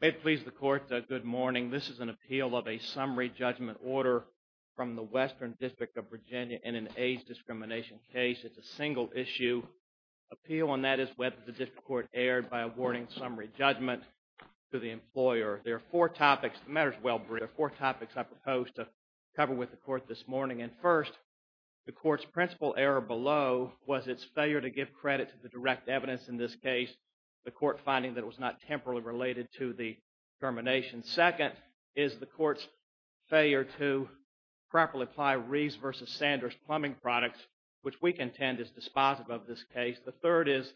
May it please the Court, good morning. This is an appeal of a summary judgment order from the Western District of Virginia in an AIDS discrimination case. It's a single issue. Appeal on that is whether the District Court erred by awarding summary judgment to the employer. There are four topics. The matter is well briefed. There are four topics I propose to cover with the Court this morning. And first, the Court's principal error below was its failure to give credit to the direct evidence in this case, the Court finding that it was not temporally related to the termination. Second, is the Court's failure to properly apply Reeves v. Sanders plumbing products, which we contend is dispositive of this case. The third is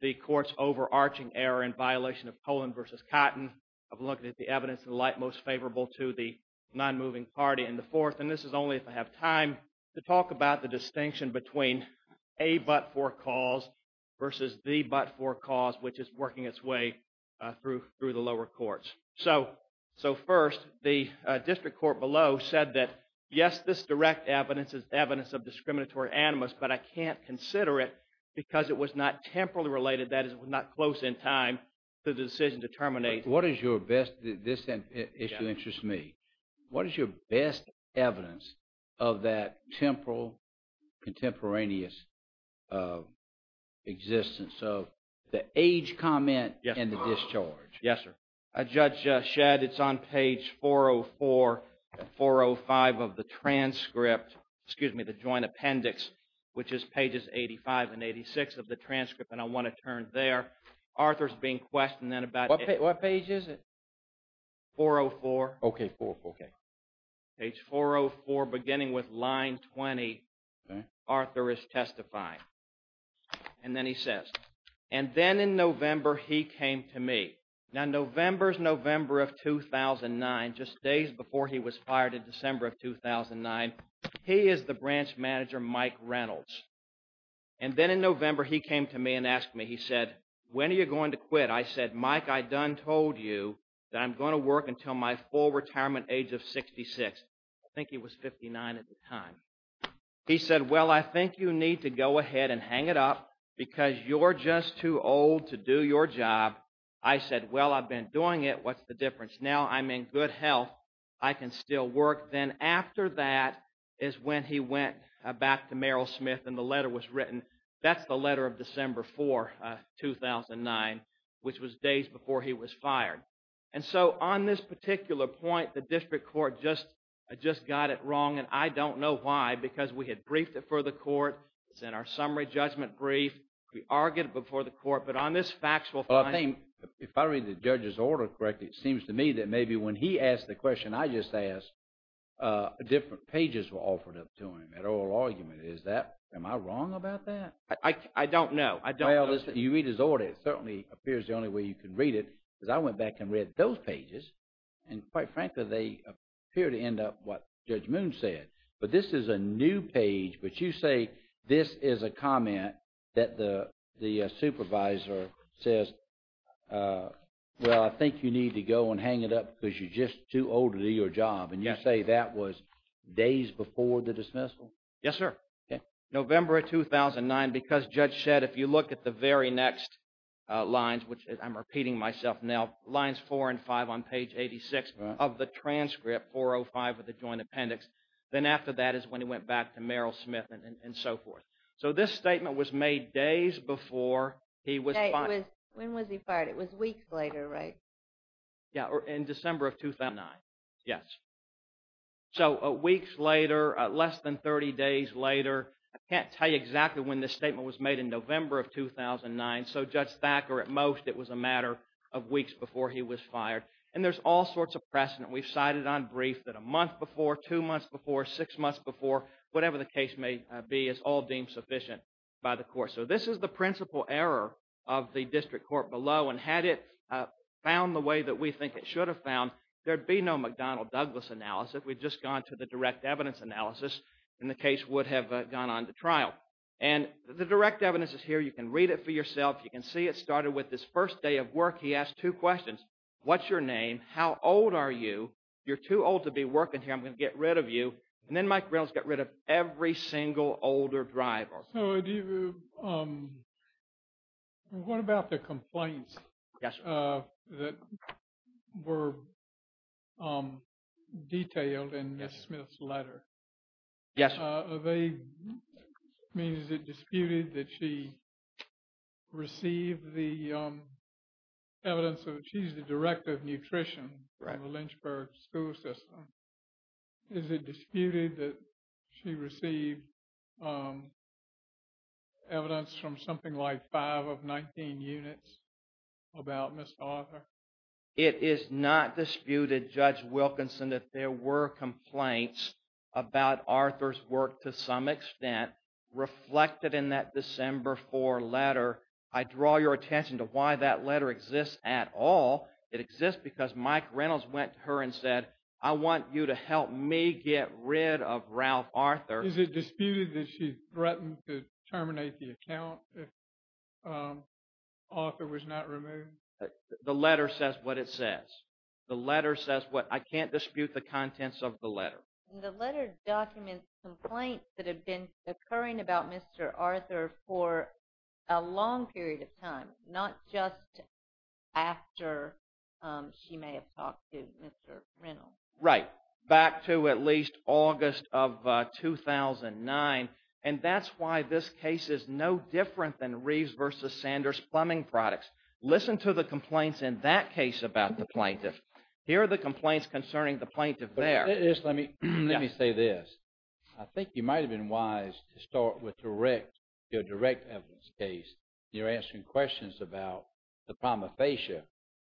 the Court's overarching error in violation of Poland v. Cotton of looking at the evidence in light most favorable to the nonmoving party. And the fourth, and this is only if I have time, to talk about the distinction between a but-for cause versus the but-for cause, which is working its way through the lower courts. So first, the District Court below said that, yes, this direct evidence is evidence of discriminatory animus, but I can't consider it because it was not temporally related, that is, it was not close in time to the decision to terminate. What is your best, this issue interests me, what is your best evidence of that temporal, contemporaneous existence? So, the age comment and the discharge. Yes, sir. Judge Shedd, it's on page 404 and 405 of the transcript, excuse me, the joint appendix, which is pages 85 and 86 of the transcript, and I want to turn there. Arthur is being questioned then about... What page is it? 404. Okay, 404. Okay. Page 404, beginning with line 20, Arthur is testifying. And then he says, and then in November, he came to me. Now, November is November of 2009, just days before he was fired from his position as finance manager, Mike Reynolds. And then in November, he came to me and asked me, he said, when are you going to quit? I said, Mike, I done told you that I'm going to work until my full retirement age of 66. I think he was 59 at the time. He said, well, I think you need to go ahead and hang it up because you're just too old to do your job. I said, well, I've been doing it, what's the difference? Now I'm in good health. I can still work. Then after that is when he went back to Merrill Smith and the letter was written. That's the letter of December 4, 2009, which was days before he was fired. And so on this particular point, the district court just got it wrong. And I don't know why, because we had briefed it for the court. It's in our summary judgment brief. We argued it before the court, but on this factual... Well, I think if I read the judge's order correctly, it seems to me that maybe when he asked the question I just asked, different pages were offered up to him, that oral argument. Is that, am I wrong about that? I don't know. Well, listen, you read his order. It certainly appears the only way you can read it, because I went back and read those pages. And quite frankly, they appear to end up what Judge Moon said. But this is a new page. But you say this is a comment that the supervisor says, well, I think you need to go and hang it up because you're just too old to do your job. And you say that was days before the dismissal? Yes, sir. November of 2009, because Judge said if you look at the very next lines, which I'm repeating myself now, lines 4 and 5 on page 86 of the transcript, 405 of the joint appendix, then after that is when he went back to Merrill Smith and so forth. So this When was he fired? It was weeks later, right? Yeah, in December of 2009. Yes. So weeks later, less than 30 days later. I can't tell you exactly when this statement was made in November of 2009. So Judge Thacker, at most, it was a matter of weeks before he was fired. And there's all sorts of precedent. We've cited on brief that a month before, two months before, six months before, whatever the case may be, it's all deemed sufficient by the court. So this is the principal error of the district court below. And had it found the way that we think it should have found, there'd be no McDonnell-Douglas analysis. We've just gone to the direct evidence analysis, and the case would have gone on to trial. And the direct evidence is here. You can read it for yourself. You can see it started with this first day of work. He asked two questions. What's your name? How old are you? You're too old to be working here. I'm going to get rid of you. And then Mike Reynolds got rid of every single older driver. So what about the complaints that were detailed in Ms. Smith's letter? Yes. Are they, I mean, is it disputed that she received the evidence of, she's the director of nutrition in the Lynchburg school system. Is it disputed that she received evidence from something like five of 19 units about Ms. Arthur? It is not disputed, Judge Wilkinson, that there were complaints about Arthur's work to some extent reflected in that December 4 letter. I draw your attention to why that is, because Mike Reynolds went to her and said, I want you to help me get rid of Ralph Arthur. Is it disputed that she threatened to terminate the account if Arthur was not removed? The letter says what it says. The letter says what, I can't dispute the contents of the letter. The letter documents complaints that have been occurring about Mr. Arthur for a long period of time, not just after she may have talked to Mr. Reynolds. Right. Back to at least August of 2009. And that's why this case is no different than Reeves v. Sanders plumbing products. Listen to the complaints in that case about the plaintiff. Here are the complaints concerning the plaintiff there. Let me say this. I think you might have been wise to start with direct, your direct evidence case. You're answering questions about the prima facie.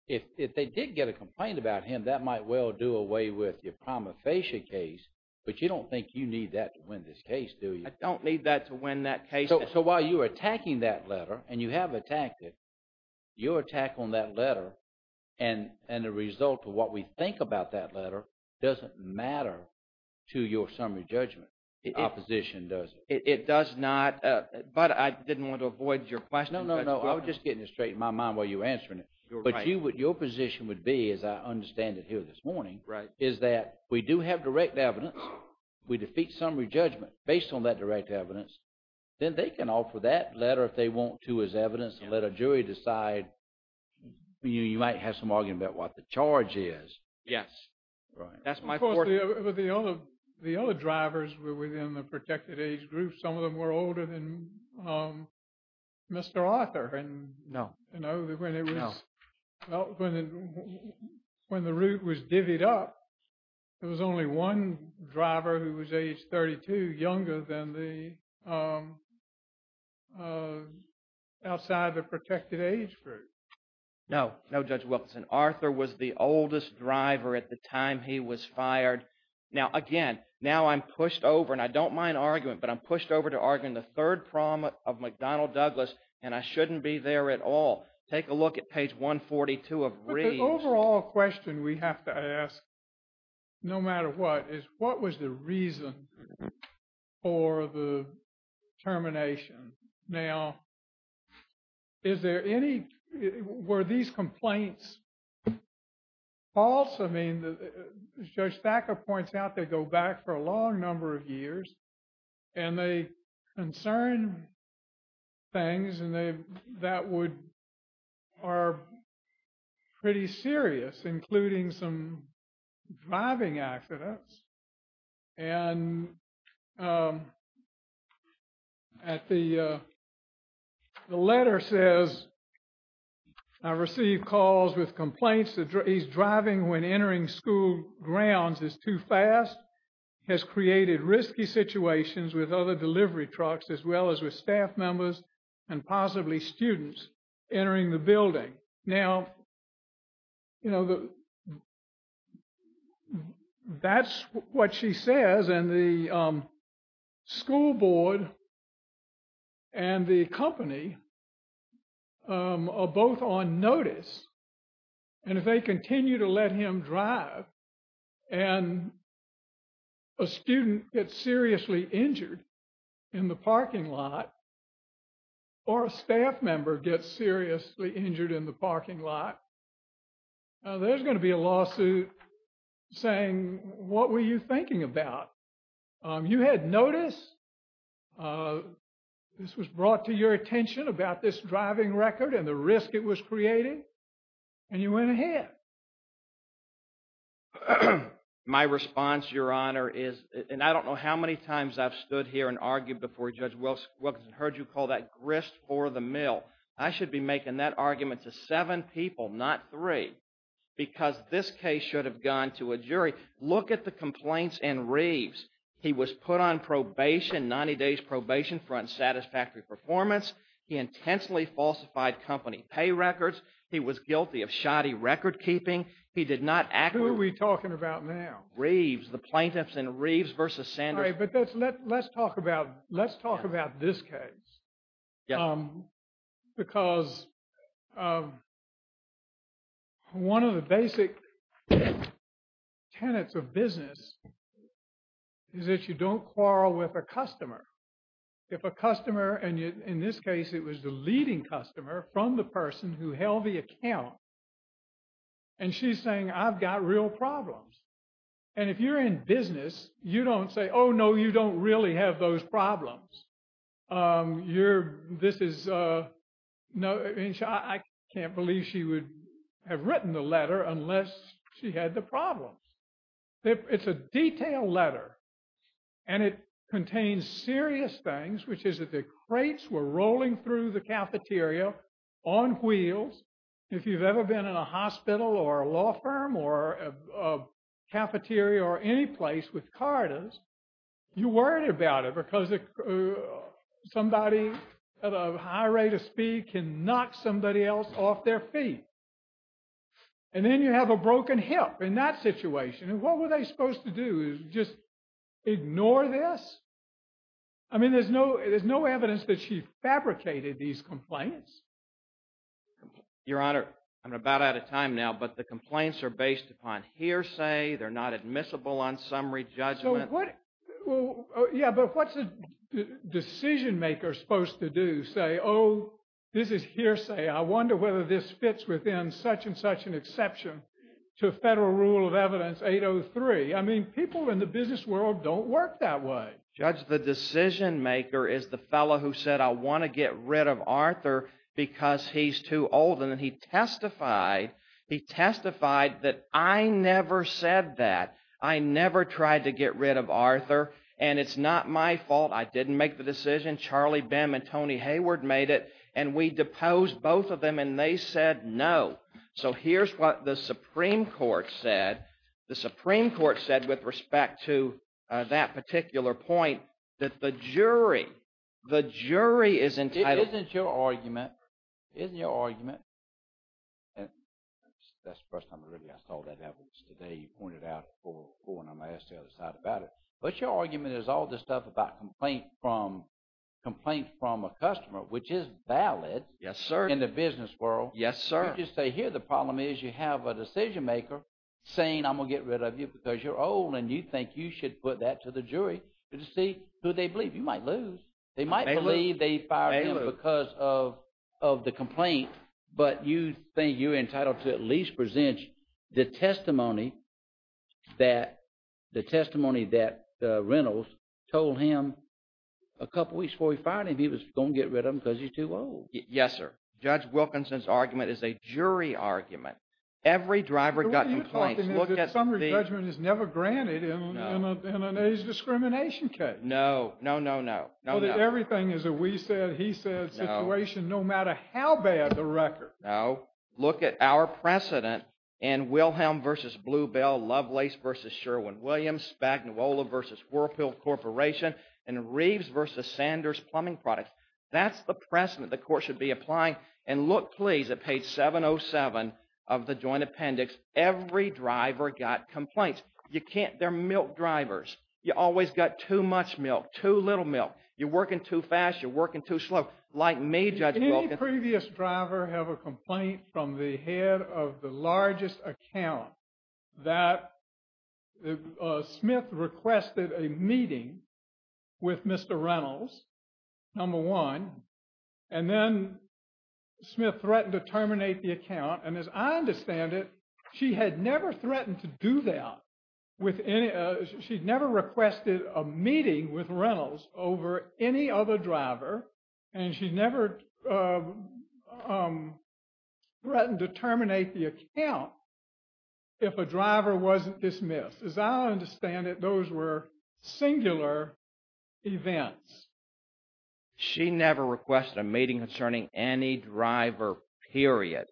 If they did get a complaint about him, that might well do away with your prima facie case. But you don't think you need that to win this case, do you? I don't need that to win that case. So while you were attacking that letter and you have attacked it, your attack on that letter and the result of what we think about that letter doesn't matter to your summary judgment. The opposition does. It does not. But I didn't want to avoid your question. No, no, no. I was just getting it straight in my mind while you were answering it. But your position would be, as I understand it here this morning, is that we do have direct evidence. We defeat summary judgment based on that direct evidence. Then they can offer that letter if they want to as evidence and let a jury decide. You might have some argument about what the charge is. Yes. That's my point. Of course, the other drivers were within the protected age group. Some of them were older than Mr. Arthur. No. When the route was divvied up, there was only one driver who was age 32, younger than the outside of the protected age group. No. No, Judge Wilkinson. Arthur was the oldest driver at the time he was fired. Now, again, now I'm pushed over and I don't mind argument, but I'm pushed over to arguing the third problem of McDonnell Douglas and I shouldn't be there at all. Take a look at page 142 of Reid's. But the overall question we have to ask, no matter what, is what was the reason for the were these complaints false? I mean, as Judge Thacker points out, they go back for a long number of years and they concern things that are pretty serious, including some driving accidents. And the letter says, I received calls with complaints that he's driving when entering school grounds is too fast, has created risky situations with other delivery trucks as well as with staff members and possibly students entering the building. Now, that's what she says and the school board and the company are both on notice. And if they continue to let him drive and a student gets seriously injured in the parking lot or a staff member gets seriously injured in the parking lot, there's going to be a lawsuit saying, what were you thinking about? You had noticed this was brought to your attention about this driving record and the risk it was creating and you went ahead. My response, Your Honor, is, and I don't know how many times I've stood here and argued before Judge Wilkinson heard you call that grist for the mill. I should be making that argument to seven people, not three, because this case should have gone to a jury. Look at the complaints in Reeves. He was put on probation, 90 days probation for unsatisfactory performance. He intensely falsified company pay records. He was guilty of shoddy record keeping. He did not act. Who are we talking about now? Reeves, the plaintiffs in Reeves versus Sanders. Let's talk about this case. Because one of the basic tenets of business is that you don't quarrel with a customer. If a customer, and in this case, it was the leading customer from the person who held the account, and she's saying, I've got real problems. And if you're in business, you don't say, oh no, you don't really have those problems. I can't believe she would have written the letter unless she had the problems. It's a detailed letter and it contains serious things, which is that the crates were rolling through the cafeteria on wheels. If you've ever been in a hospital or a law firm or a cafeteria or any place with carters, you're worried about it because somebody at a high rate of speed can knock somebody else off their feet. And then you have a broken hip in that situation. And what were supposed to do is just ignore this? There's no evidence that she fabricated these complaints. Your Honor, I'm about out of time now, but the complaints are based upon hearsay. They're not admissible on summary judgment. Yeah, but what's the decision maker supposed to do? Say, oh, this is hearsay. I wonder whether this fits within such and such an exception to federal rule of evidence 803. I mean, people in the business world don't work that way. Judge, the decision maker is the fellow who said, I want to get rid of Arthur because he's too old. And then he testified, he testified that I never said that. I never tried to get rid of Arthur. And it's not my fault. I didn't make the decision. Charlie Bem and Tony Hayward made it. And we deposed both of them, and they said no. So here's what the Supreme Court said. The Supreme Court said with respect to that particular point that the jury, the jury is entitled. Isn't your argument, isn't your argument, and that's the first time I saw that evidence today, you pointed out before, and I'm going to ask the other side about it. But your argument is all this stuff about complaint from a customer, which is valid. Yes, sir. In the business world. Yes, sir. You say here the problem is you have a decision maker saying I'm going to get rid of you because you're old and you think you should put that to the jury to see who they believe. You might lose. They might believe they fired him because of the complaint, but you think you're entitled to at the testimony that the testimony that Reynolds told him a couple of weeks before he fired him, he was going to get rid of him because he's too old. Yes, sir. Judge Wilkinson's argument is a jury argument. Every driver got complaints. The summary judgment is never granted in an age discrimination case. No, no, no, no. Everything is a we said, he said situation no matter how bad the record. No, look at our precedent and Wilhelm versus Bluebell, Lovelace versus Sherwin-Williams, Spagnuolo versus Whirlpool Corporation and Reeves versus Sanders Plumbing Products. That's the precedent the court should be applying. And look, please, at page 707 of the joint appendix. Every driver got complaints. You can't. They're milk drivers. You always got too much milk, too little milk. You're working too fast. You're working too slow. Like me. Previous driver have a complaint from the head of the largest account that Smith requested a meeting with Mr. Reynolds, number one, and then Smith threatened to terminate the account. And as I understand it, she had never threatened to do that with any, she'd never requested a meeting with Reynolds over any other driver. And she'd never threatened to terminate the account if a driver wasn't dismissed. As I understand it, those were singular events. She never requested a meeting concerning any driver, period.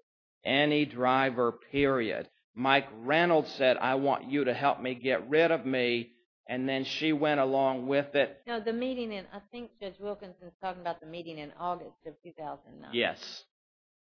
Any driver, period. Mike Reynolds said, I want you to help me get rid of me. And then she went along with it. No, the meeting in, I think Judge Wilkinson's talking about the meeting in August of 2009. Yes.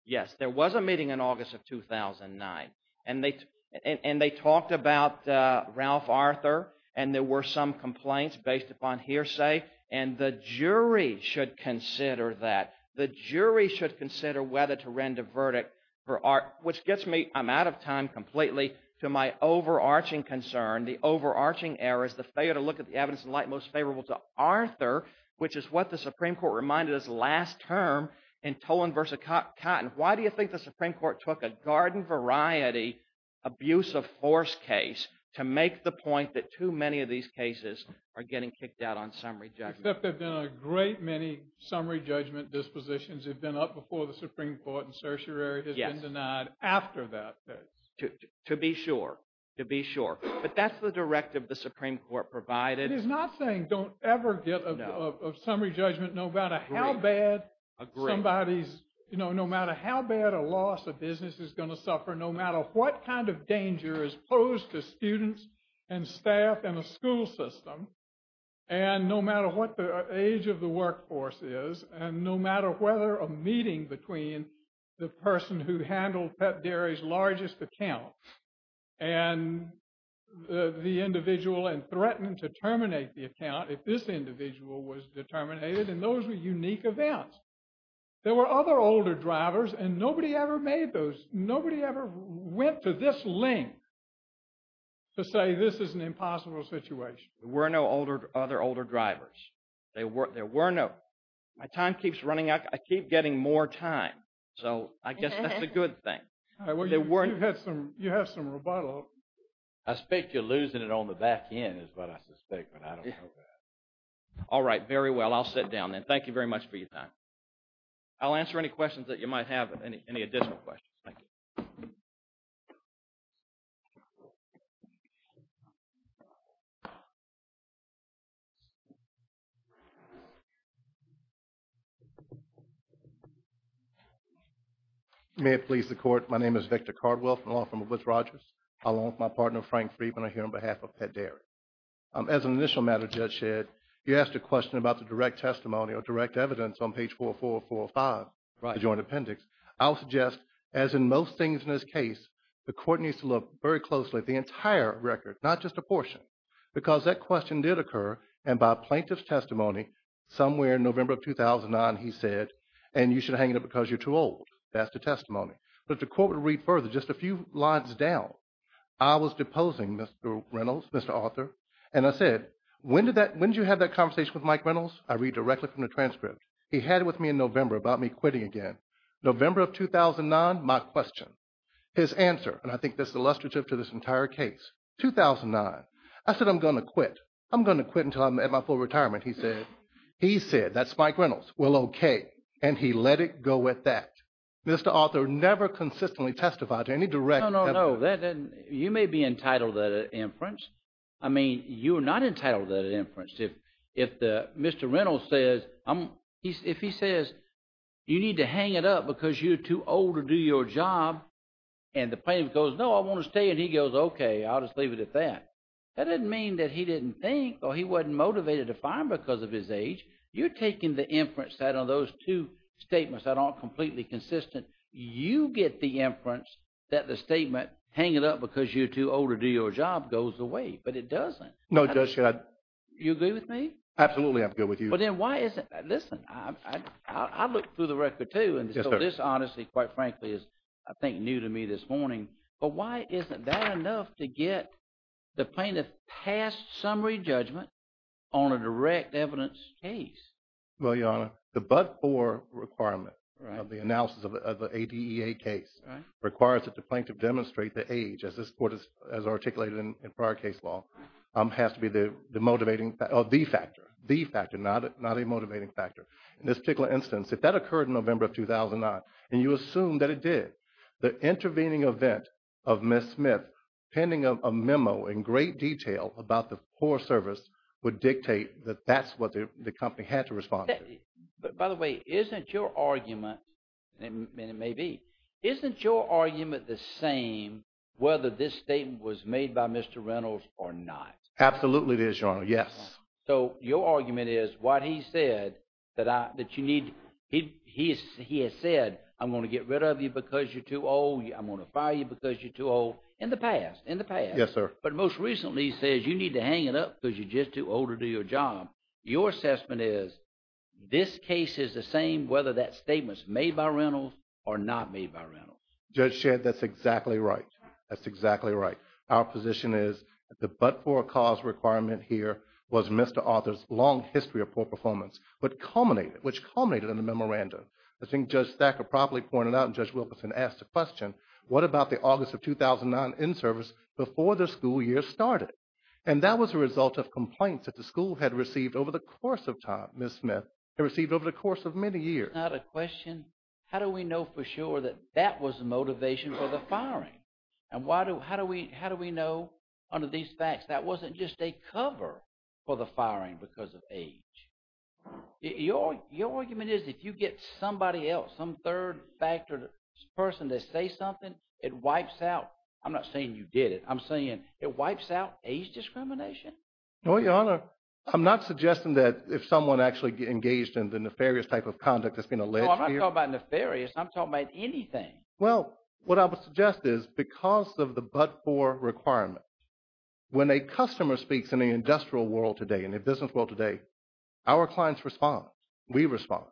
Yes, there was a meeting in August of 2009. And they talked about Ralph Arthur. And there were some complaints based upon hearsay. And the jury should consider that. The jury should consider whether to render verdict for, which gets me, I'm out of time completely to my overarching concern. The overarching error is the failure to look at the evidence in light most favorable to Arthur, which is what the Supreme Court reminded us last term in Toland versus Cotton. Why do you think the Supreme Court took a garden variety abuse of force case to make the point that too many of these cases are getting kicked out on summary judgment? There've been a great many summary judgment dispositions. They've been up before the Supreme Court and certiorari has been denied after that. To be sure, to be sure. But that's the directive the Supreme Court provided. It is not saying don't ever get a summary judgment, no matter how bad somebody's, no matter how bad a loss of business is going to suffer, no matter what kind of danger is posed to students and staff and the school system. And no matter what the age of the workforce is, and no matter whether a meeting between the person who handled pet dairy's largest account and the individual and threatened to terminate the account. If this individual was determinated and those were unique events, there were other older drivers and nobody ever made those. Nobody ever went to this link to say this is an impossible situation. There were no older, other older drivers. They were, there were no, my time keeps running out. I keep getting more time. So I guess that's a good thing. You've had some, you have some rebuttal. I speak to losing it on the back end is what I suspect, but I don't know that. All right, very well. I'll sit down then. Thank you very much for your time. I'll answer any questions that you might have, any additional questions. Thank you. Thank you. May it please the court. My name is Victor Cardwell from the law firm of Woods Rogers. Along with my partner, Frank Friedman, I'm here on behalf of Pet Dairy. As an initial matter, Judge Shedd, you asked a question about the direct testimony or direct evidence on page 4445, the joint appendix. I'll suggest as in most things in this case, the court needs to look very closely at the entire record, not just a portion, because that question did occur. And by plaintiff's testimony, somewhere in November of 2009, he said, and you should hang it up because you're too old. That's the testimony. But the court would read further just a few lines down. I was deposing Mr. Reynolds, Mr. Arthur, and I said, when did that, when did you have that conversation with Mike Reynolds? I read directly from the transcript. He had it with me in November about me quitting again. November of 2009, my question. His answer, and I think this is illustrative to this entire case, 2009. I said, I'm going to quit. I'm going to quit until I'm at my full retirement, he said. He said, that's Mike Reynolds. Well, okay. And he let it go at that. Mr. Arthur never consistently testified to any direct evidence. No, no, no. You may be entitled to that inference. I mean, you are not entitled to that inference. If Mr. Reynolds says, if he says, you need to hang it up because you're too old to do your job, and the plaintiff goes, no, I want to stay. And he goes, okay, I'll just leave it at that. That doesn't mean that he didn't think, or he wasn't motivated to find because of his age. You're taking the inference that on those two statements that aren't completely consistent. You get the inference that the statement, hang it up because you're too old to do your job, goes away. But it doesn't. No, Judge, should I? You agree with me? Absolutely, I'm good with you. Listen, I looked through the record too, and so this honestly, quite frankly, is, I think, new to me this morning. But why isn't that enough to get the plaintiff passed summary judgment on a direct evidence case? Well, Your Honor, the but-for requirement of the analysis of the ADEA case requires that the plaintiff demonstrate the age, as this court has articulated in prior case law, has to be the motivating, or the factor, the factor, not a motivating factor. In this particular instance, if that occurred in November of 2009, and you assume that it did, the intervening event of Ms. Smith penning a memo in great detail about the poor service would dictate that that's what the company had to respond to. By the way, isn't your argument, and it may be, isn't your argument the same whether this Absolutely it is, Your Honor, yes. So your argument is, what he said, that you need, he has said, I'm going to get rid of you because you're too old, I'm going to fire you because you're too old, in the past, in the past. Yes, sir. But most recently, he says, you need to hang it up because you're just too old to do your job. Your assessment is, this case is the same whether that statement's made by Reynolds or not made by Reynolds. Judge Shedd, that's exactly right. That's exactly right. Our position is that the but-for-a-cause requirement here was Mr. Arthur's long history of poor performance, but culminated, which culminated in the memorandum. I think Judge Thacker probably pointed out, and Judge Wilkerson asked the question, what about the August of 2009 inservice before the school year started? And that was a result of complaints that the school had received over the course of time, Ms. Smith, had received over the course of many years. Now the question, how do we know for sure that that was the motivation for the firing? And how do we know under these facts that wasn't just a cover for the firing because of age? Your argument is, if you get somebody else, some third-factor person to say something, it wipes out, I'm not saying you did it, I'm saying it wipes out age discrimination? No, Your Honor, I'm not suggesting that if someone actually engaged in the nefarious type of conduct that's been alleged here- No, I'm not talking about nefarious, I'm talking about anything. Well, what I would suggest is because of the but-for requirement, when a customer speaks in the industrial world today and the business world today, our clients respond, we respond.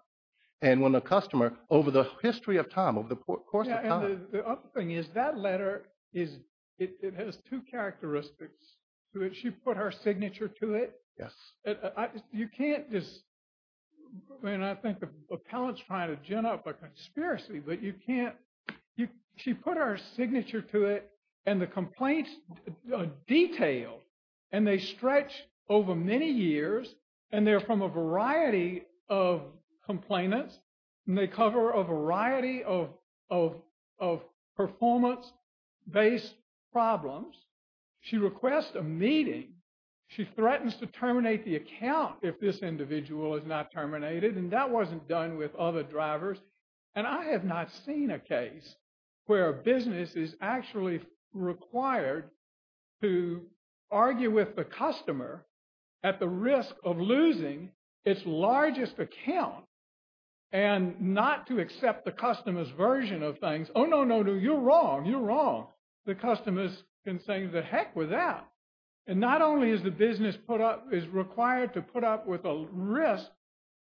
And when a customer, over the history of time, over the course of time- Yeah, and the other thing is that letter, it has two characteristics to it. She put her signature to it. Yes. You can't just, I mean, I think the appellant's trying to gin up a conspiracy, but you can't she put her signature to it and the complaints are detailed and they stretch over many years and they're from a variety of complainants and they cover a variety of performance-based problems. She requests a meeting, she threatens to terminate the account if this individual is not terminated and that wasn't done with other drivers. And I have not seen a case where a business is actually required to argue with the customer at the risk of losing its largest account and not to accept the customer's version of things. Oh, no, no, no, you're wrong, you're wrong. The customers can say, the heck with that. And not only is the business put up, is required to put up with a risk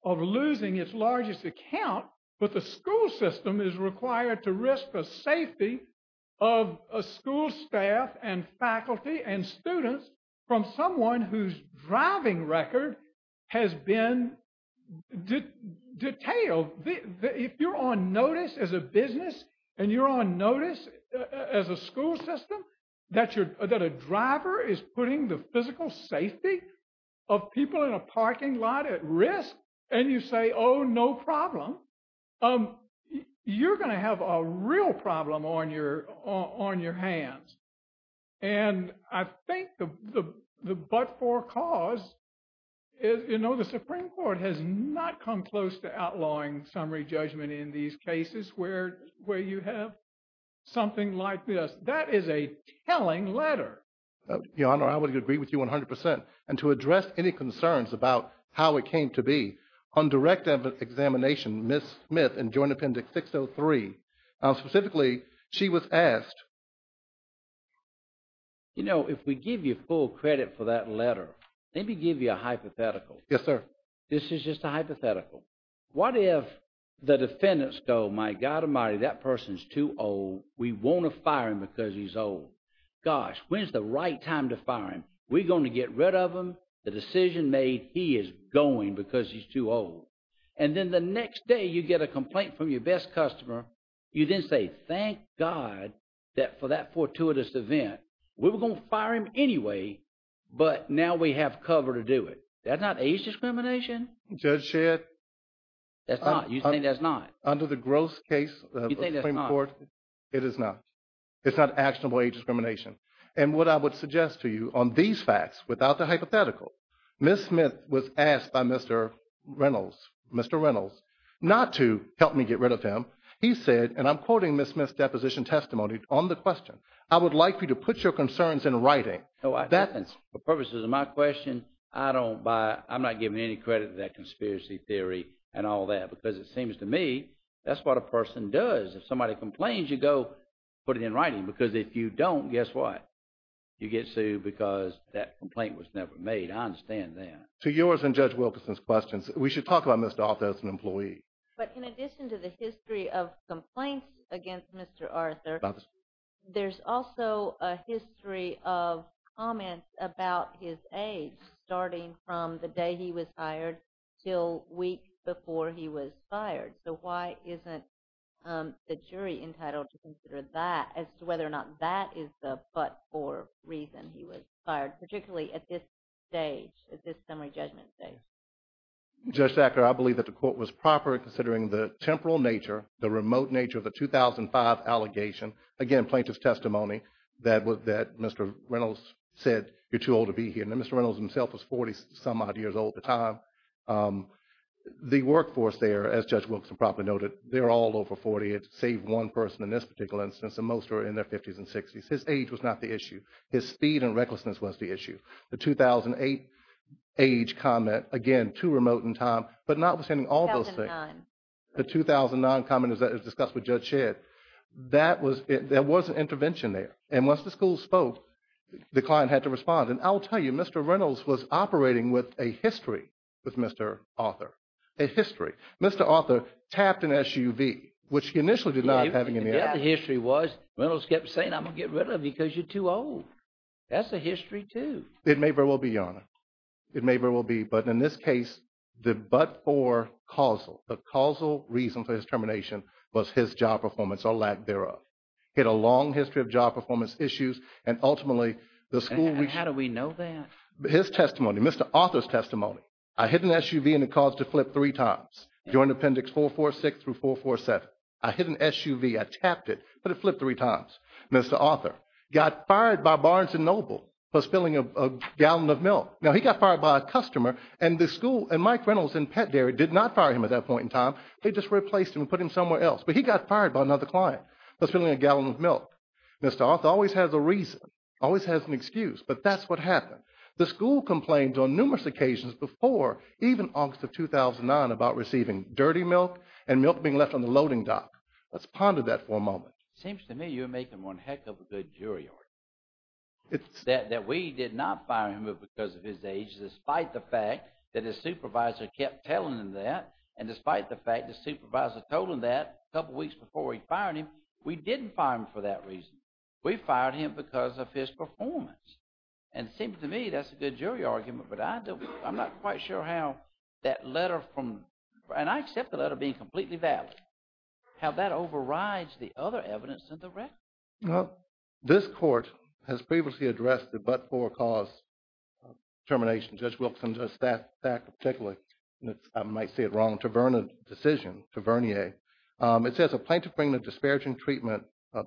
of losing its largest account, but the school system is required to risk the safety of a school staff and faculty and students from someone whose driving record has been detailed. If you're on notice as a business and you're on notice as a school system, that a driver is putting the physical safety of people in a parking lot at risk and you say, oh, no problem, you're going to have a real problem on your hands. And I think the but-for cause, the Supreme Court has not come close to outlawing summary judgment in these cases where you have something like this, that is a telling letter. Your Honor, I would agree with you 100%. And to address any concerns about how it came to be, on direct examination, Ms. Smith in Joint Appendix 603, specifically, she was asked. You know, if we give you full credit for that letter, let me give you a hypothetical. Yes, sir. This is just a hypothetical. What if the defendants go, my God Almighty, that person's too old, we want to fire him because he's old. Gosh, when's the right time to fire him? We're going to get rid of him. The decision made, he is going because he's too old. And then the next day you get a complaint from your best customer, you then say, thank God that for that fortuitous event, we were going to fire him anyway, but now we have cover to do it. That's not age discrimination? Judge Shedd. That's not. You think that's not? Under the gross case of the Supreme Court, it is not. It's not actionable age discrimination. And what I would suggest to you on these facts, without the hypothetical, Ms. Smith was asked by Mr. Reynolds, Mr. Reynolds, not to help me get rid of him. He said, and I'm quoting Ms. Smith's deposition testimony on the question, I would like you to put your concerns in writing. So that's the purposes of my question. I don't buy. I'm not giving any credit to that conspiracy theory and all that because it seems to me that's what a person does. If somebody complains, you go put it in writing, because if you don't, guess what? You get sued because that complaint was never made. I understand that. To yours and Judge Wilkerson's questions, we should talk about Mr. Arthur as an employee. But in addition to the history of complaints against Mr. Arthur, there's also a history of comments about his age, starting from the day he was hired till weeks before he was fired. So why isn't the jury entitled to consider that as to whether or not that is the but or reason he was fired, particularly at this stage, at this summary judgment stage? Judge Sackler, I believe that the court was proper in considering the temporal nature, the remote nature of the 2005 allegation, again, plaintiff's testimony, that Mr. Reynolds said, you're too old to be here. Now, Mr. Reynolds himself was 40-some odd years old at the time. The workforce there, as Judge Wilkerson probably noted, they're all over 40, save one person in this particular instance, and most are in their 50s and 60s. His age was not the issue. His speed and recklessness was the issue. The 2008 age comment, again, too remote in time, but notwithstanding all those things. 2009. The 2009 comment is that it was discussed with Judge Shedd. There was an intervention there. And once the school spoke, the client had to respond. And I'll tell you, Mr. Reynolds was operating with a history with Mr. Arthur. A history. Mr. Arthur tapped an SUV, which he initially did not have in the act. Yeah, the history was Reynolds kept saying, I'm going to get rid of you because you're too old. That's a history, too. It may very well be, Your Honor. It may very well be. But in this case, the but or causal, the causal reason for his termination was his job performance or lack thereof. He had a long history of job performance issues. And ultimately, the school… How do we know that? His testimony, Mr. Arthur's testimony. I hit an SUV and it caused it to flip three times during Appendix 446 through 447. I hit an SUV, I tapped it, but it flipped three times. Mr. Arthur got fired by Barnes & Noble for spilling a gallon of milk. Now, he got fired by a customer and the school and Mike Reynolds and Pet Dairy did not fire him at that point in time. They just replaced him and put him somewhere else. But he got fired by another client for spilling a gallon of milk. Mr. Arthur always has a reason, always has an excuse. But that's what happened. The school complained on numerous occasions before, even August of 2009, about receiving dirty milk and milk being left on the loading dock. Let's ponder that for a moment. It seems to me you're making one heck of a good jury, Your Honor, that we did not fire him because of his age, despite the fact that his supervisor kept telling him that. And despite the fact the supervisor told him that a couple weeks before he fired him, we didn't fire him for that reason. We fired him because of his performance. And it seems to me that's a good jury argument. But I'm not quite sure how that letter from, and I accept the letter being completely valid, how that overrides the other evidence in the record. Well, this court has previously addressed the but-for cause termination. Judge Wilkinson, Judge Thacker, particularly, I might say it wrong, Tavernier decision, Tavernier. It says a plaintiff bringing a disparaging treatment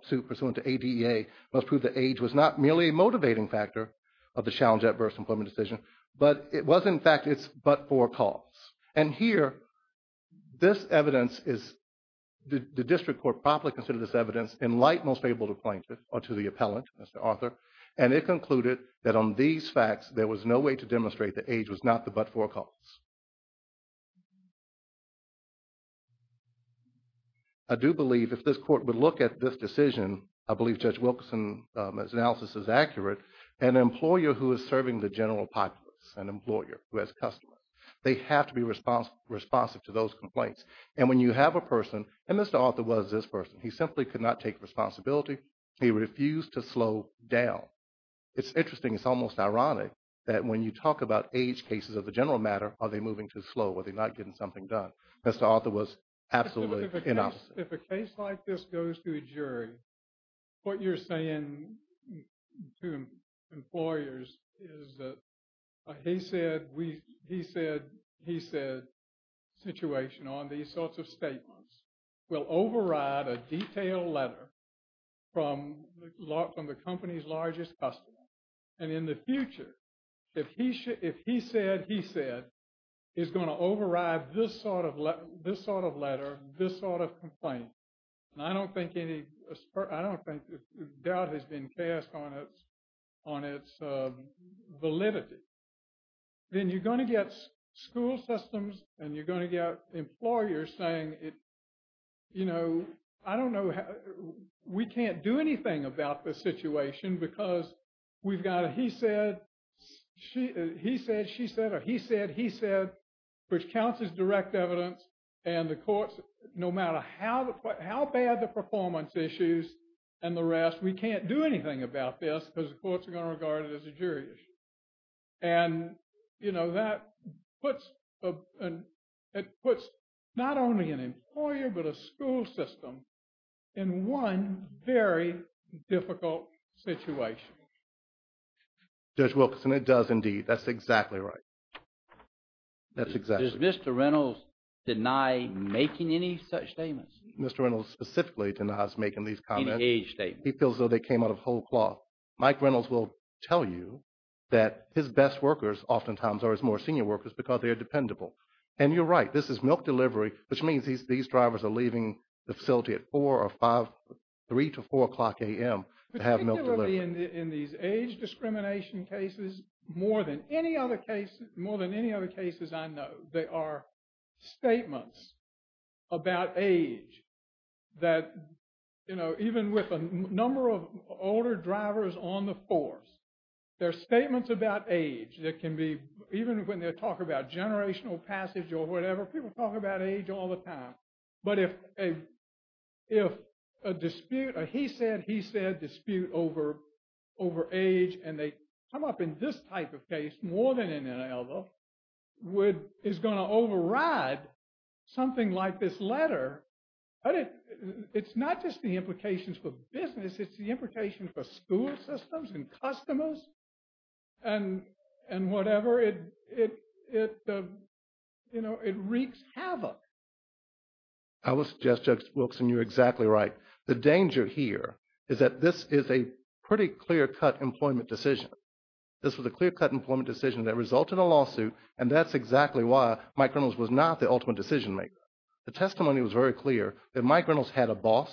suit pursuant to ADEA must prove that age was not merely a motivating factor of the challenge at birth employment decision, but it was, in fact, its but-for cause. And here, this evidence is, the district court properly considered this evidence in light, most favorable to the plaintiff, or to the appellant, Mr. Arthur, and it concluded that on these facts, there was no way to demonstrate that age was not the but-for cause. I do believe, if this court would look at this decision, I believe Judge Wilkinson's analysis is accurate, an employer who is serving the general populace, an employer who has customers, they have to be responsive to those complaints. And when you have a person, and Mr. Arthur was this person, he simply could not take responsibility. He refused to slow down. It's interesting, it's almost ironic, that when you talk about age cases of the general matter, are they moving too slow? Are they not getting something done? Mr. Arthur was absolutely inopposite. If a case like this goes to a jury, what you're saying to employers is that he said situation on these sorts of statements will override a detailed letter from the company's largest customer. And in the future, if he said he said he's going to override this sort of letter, this sort of complaint, and I don't think any doubt has been cast on its validity, then you're going to get school systems and you're going to get employers saying, you know, I don't know, we can't do anything about this situation because we've got a he said, he said, she said, or he said, he said, which counts as direct evidence. And the courts, no matter how bad the performance issues and the rest, we can't do anything about this because the courts are going to regard it as a jury issue. And, you know, that puts not only an employer, but a school system in one very difficult situation. Judge Wilkinson, it does indeed. That's exactly right. That's exactly right. Does Mr. Reynolds deny making any such statements? Mr. Reynolds specifically denies making these comments. Any age statements. He feels as though they came out of whole cloth. Mike Reynolds will tell you that his best workers oftentimes are his more senior workers because they are dependable. And you're right. This is milk delivery, which means these drivers are leaving the facility at 4 or 5, 3 to 4 o'clock a.m. to have milk delivered. Particularly in these age discrimination cases, more than any other case, more than any other cases I know, there are statements about age that, you know, even with a number of older drivers on the force, there are statements about age that can be, even when they're talking about generational passage or whatever, people talk about age all the time. But if a dispute, or he said, he said dispute over age, and they come up in this type of case more than any other, is going to override something like this letter. But it's not just the implications for business. It's the implications for school systems and customers and whatever. It, you know, it wreaks havoc. I will suggest, Judge Wilkson, you're exactly right. The danger here is that this is a pretty clear cut employment decision. This was a clear cut employment decision that resulted in a lawsuit. And that's exactly why Mike Reynolds was not the ultimate decision maker. The testimony was very clear that Mike Reynolds had a boss,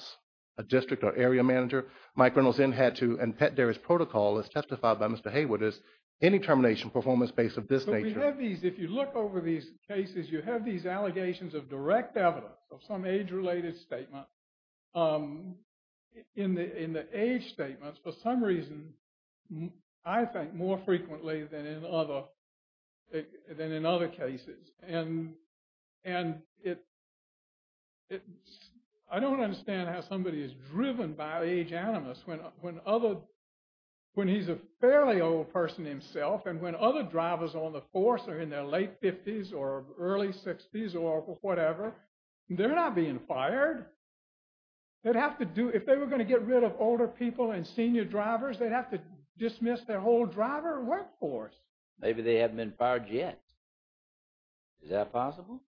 a district or area manager. Mike Reynolds then had to, and Pet Dairy's protocol, as testified by Mr. Hayward, is any termination performance based of this nature. But we have these, if you look over these cases, you have these allegations of direct evidence of some age-related statement. In the age statements, for some reason, I think more frequently than in other, than in other cases. And I don't understand how somebody is driven by age animus when other, when he's a fairly old person himself and when other drivers on the force are in their late 50s or early 60s or whatever, they're not being fired. They'd have to do, if they were going to get rid of older people and senior drivers, they'd have to dismiss their whole driver workforce. Maybe they haven't been fired yet. Is that possible?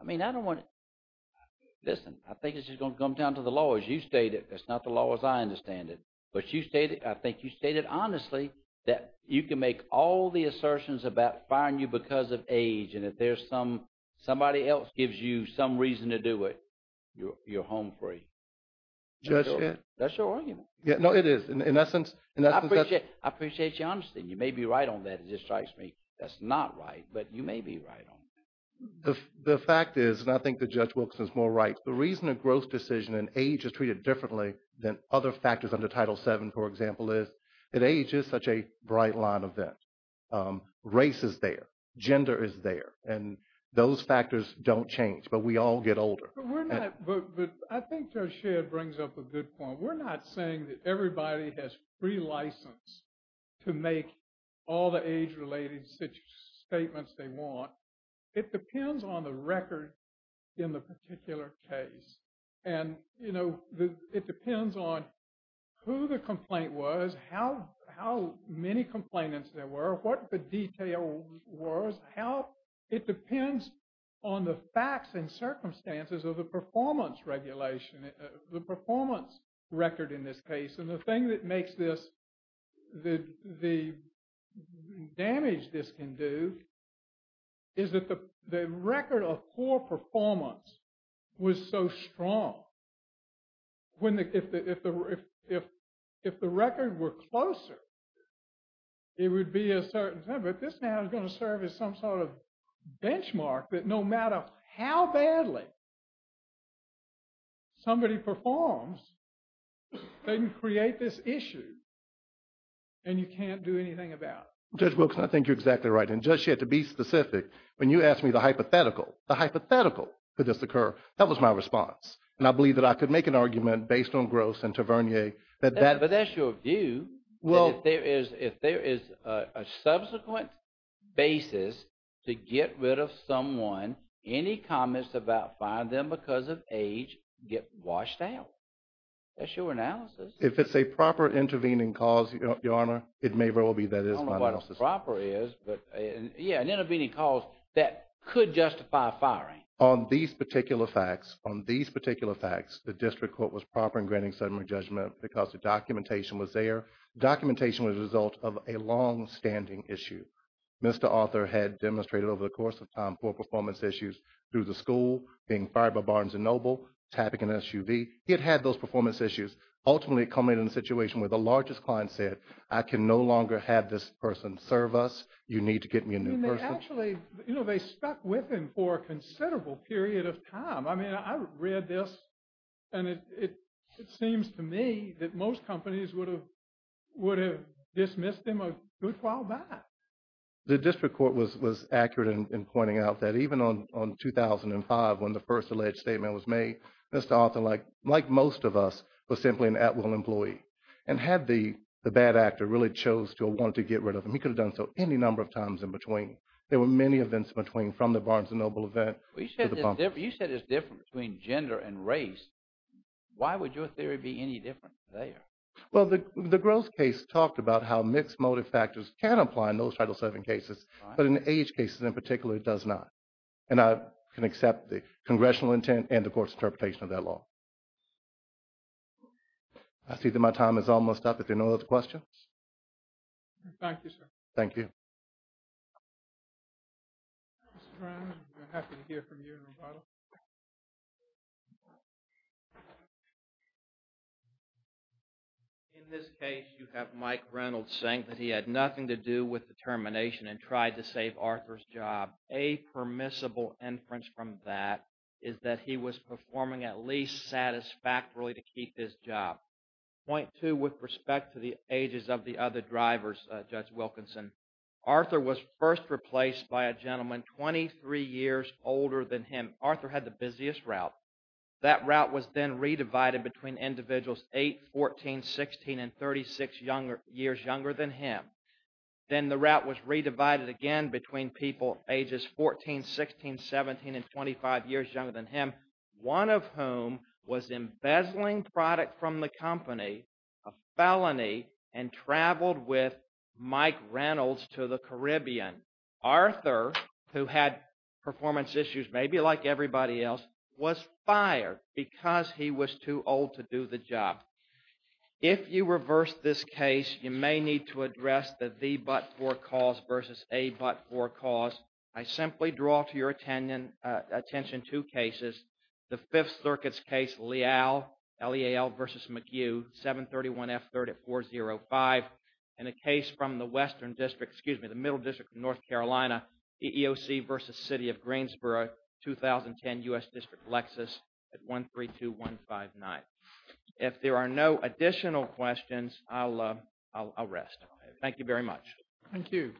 I mean, I don't want to, listen, I think it's just going to come down to the law as you stated. That's not the law as I understand it. But you stated, I think you stated honestly that you can make all the assertions about firing you because of age and if there's some, somebody else gives you some reason to do it, you're home free. That's your argument. Yeah, no, it is. In essence, I appreciate, I appreciate your honesty. You may be right on that. That's not right. But you may be right on that. The fact is, and I think that Judge Wilkinson is more right, the reason a growth decision in age is treated differently than other factors under Title VII, for example, is that age is such a bright line event. Race is there. Gender is there. And those factors don't change. But we all get older. But we're not, but I think Judge Sherr brings up a good point. We're not saying that everybody has free license to make all the age-related statements they want. It depends on the record in the particular case. And it depends on who the complaint was, how many complainants there were, what the detail was, how, it depends on the facts and circumstances of the performance regulation, the performance record in this case. And the thing that makes this, the damage this can do is that the record of poor performance was so strong. If the record were closer, it would be a certain time. But this now is going to serve as some sort of benchmark that no matter how badly somebody performs, they can create this issue and you can't do anything about it. Judge Wilkins, I think you're exactly right. And Judge Sherr, to be specific, when you asked me the hypothetical, the hypothetical could this occur, that was my response. And I believe that I could make an argument based on Gross and Tavernier that that. But that's your view. Well. If there is a subsequent basis to get rid of someone, any comments about find them because of age, get washed out. That's your analysis. If it's a proper intervening cause, Your Honor, it may well be that is my analysis. I don't know what proper is, but yeah, an intervening cause that could justify firing. On these particular facts, on these particular facts, the district court was proper in granting settlement judgment because the documentation was there. Documentation was a result of a longstanding issue. Mr. Arthur had demonstrated over the course of time poor performance issues through the tapping an SUV. He had had those performance issues. Ultimately, it culminated in a situation where the largest client said, I can no longer have this person serve us. You need to get me a new person. I mean, they actually, you know, they stuck with him for a considerable period of time. I mean, I read this and it seems to me that most companies would have dismissed him a good while back. The district court was accurate in pointing out that even on 2005, when the first alleged statement was made, Mr. Arthur, like most of us, was simply an at-will employee. And had the bad actor really chose to or wanted to get rid of him, he could have done so any number of times in between. There were many events in between, from the Barnes & Noble event to the pump. You said it's different between gender and race. Why would your theory be any different there? Well, the Gross case talked about how mixed motive factors can apply in those Title VII cases, but in the age cases in particular, it does not. And I can accept the congressional intent and the court's interpretation of that law. I see that my time is almost up. If there are no other questions. Thank you, sir. Thank you. In this case, you have Mike Reynolds saying that he had nothing to do with the termination and tried to save Arthur's job. A permissible inference from that is that he was performing at least satisfactorily to keep his job. Point two, with respect to the ages of the other drivers, Judge Wilkinson, Arthur was first replaced by a gentleman 23 years older than him. Arthur had the busiest route. That route was then redivided between individuals 8, 14, 16, and 36 years younger than him. Then the route was redivided again between people ages 14, 16, 17, and 25 years younger than him, one of whom was embezzling product from the company, a felony, and traveled with Mike Reynolds to the Caribbean. Arthur, who had performance issues, maybe like everybody else, was fired because he was too old to do the job. If you reverse this case, you may need to address the the but for cause versus a but for cause. I simply draw to your attention two cases. The Fifth Circuit's case, Leal versus McHugh, 731F3 at 405, and a case from the Western District, excuse me, the Middle District of North Carolina, EEOC versus City of Greensboro, 2010 U.S. District, Lexus at 132159. If there are no additional questions, I'll rest. Thank you very much. Thank you.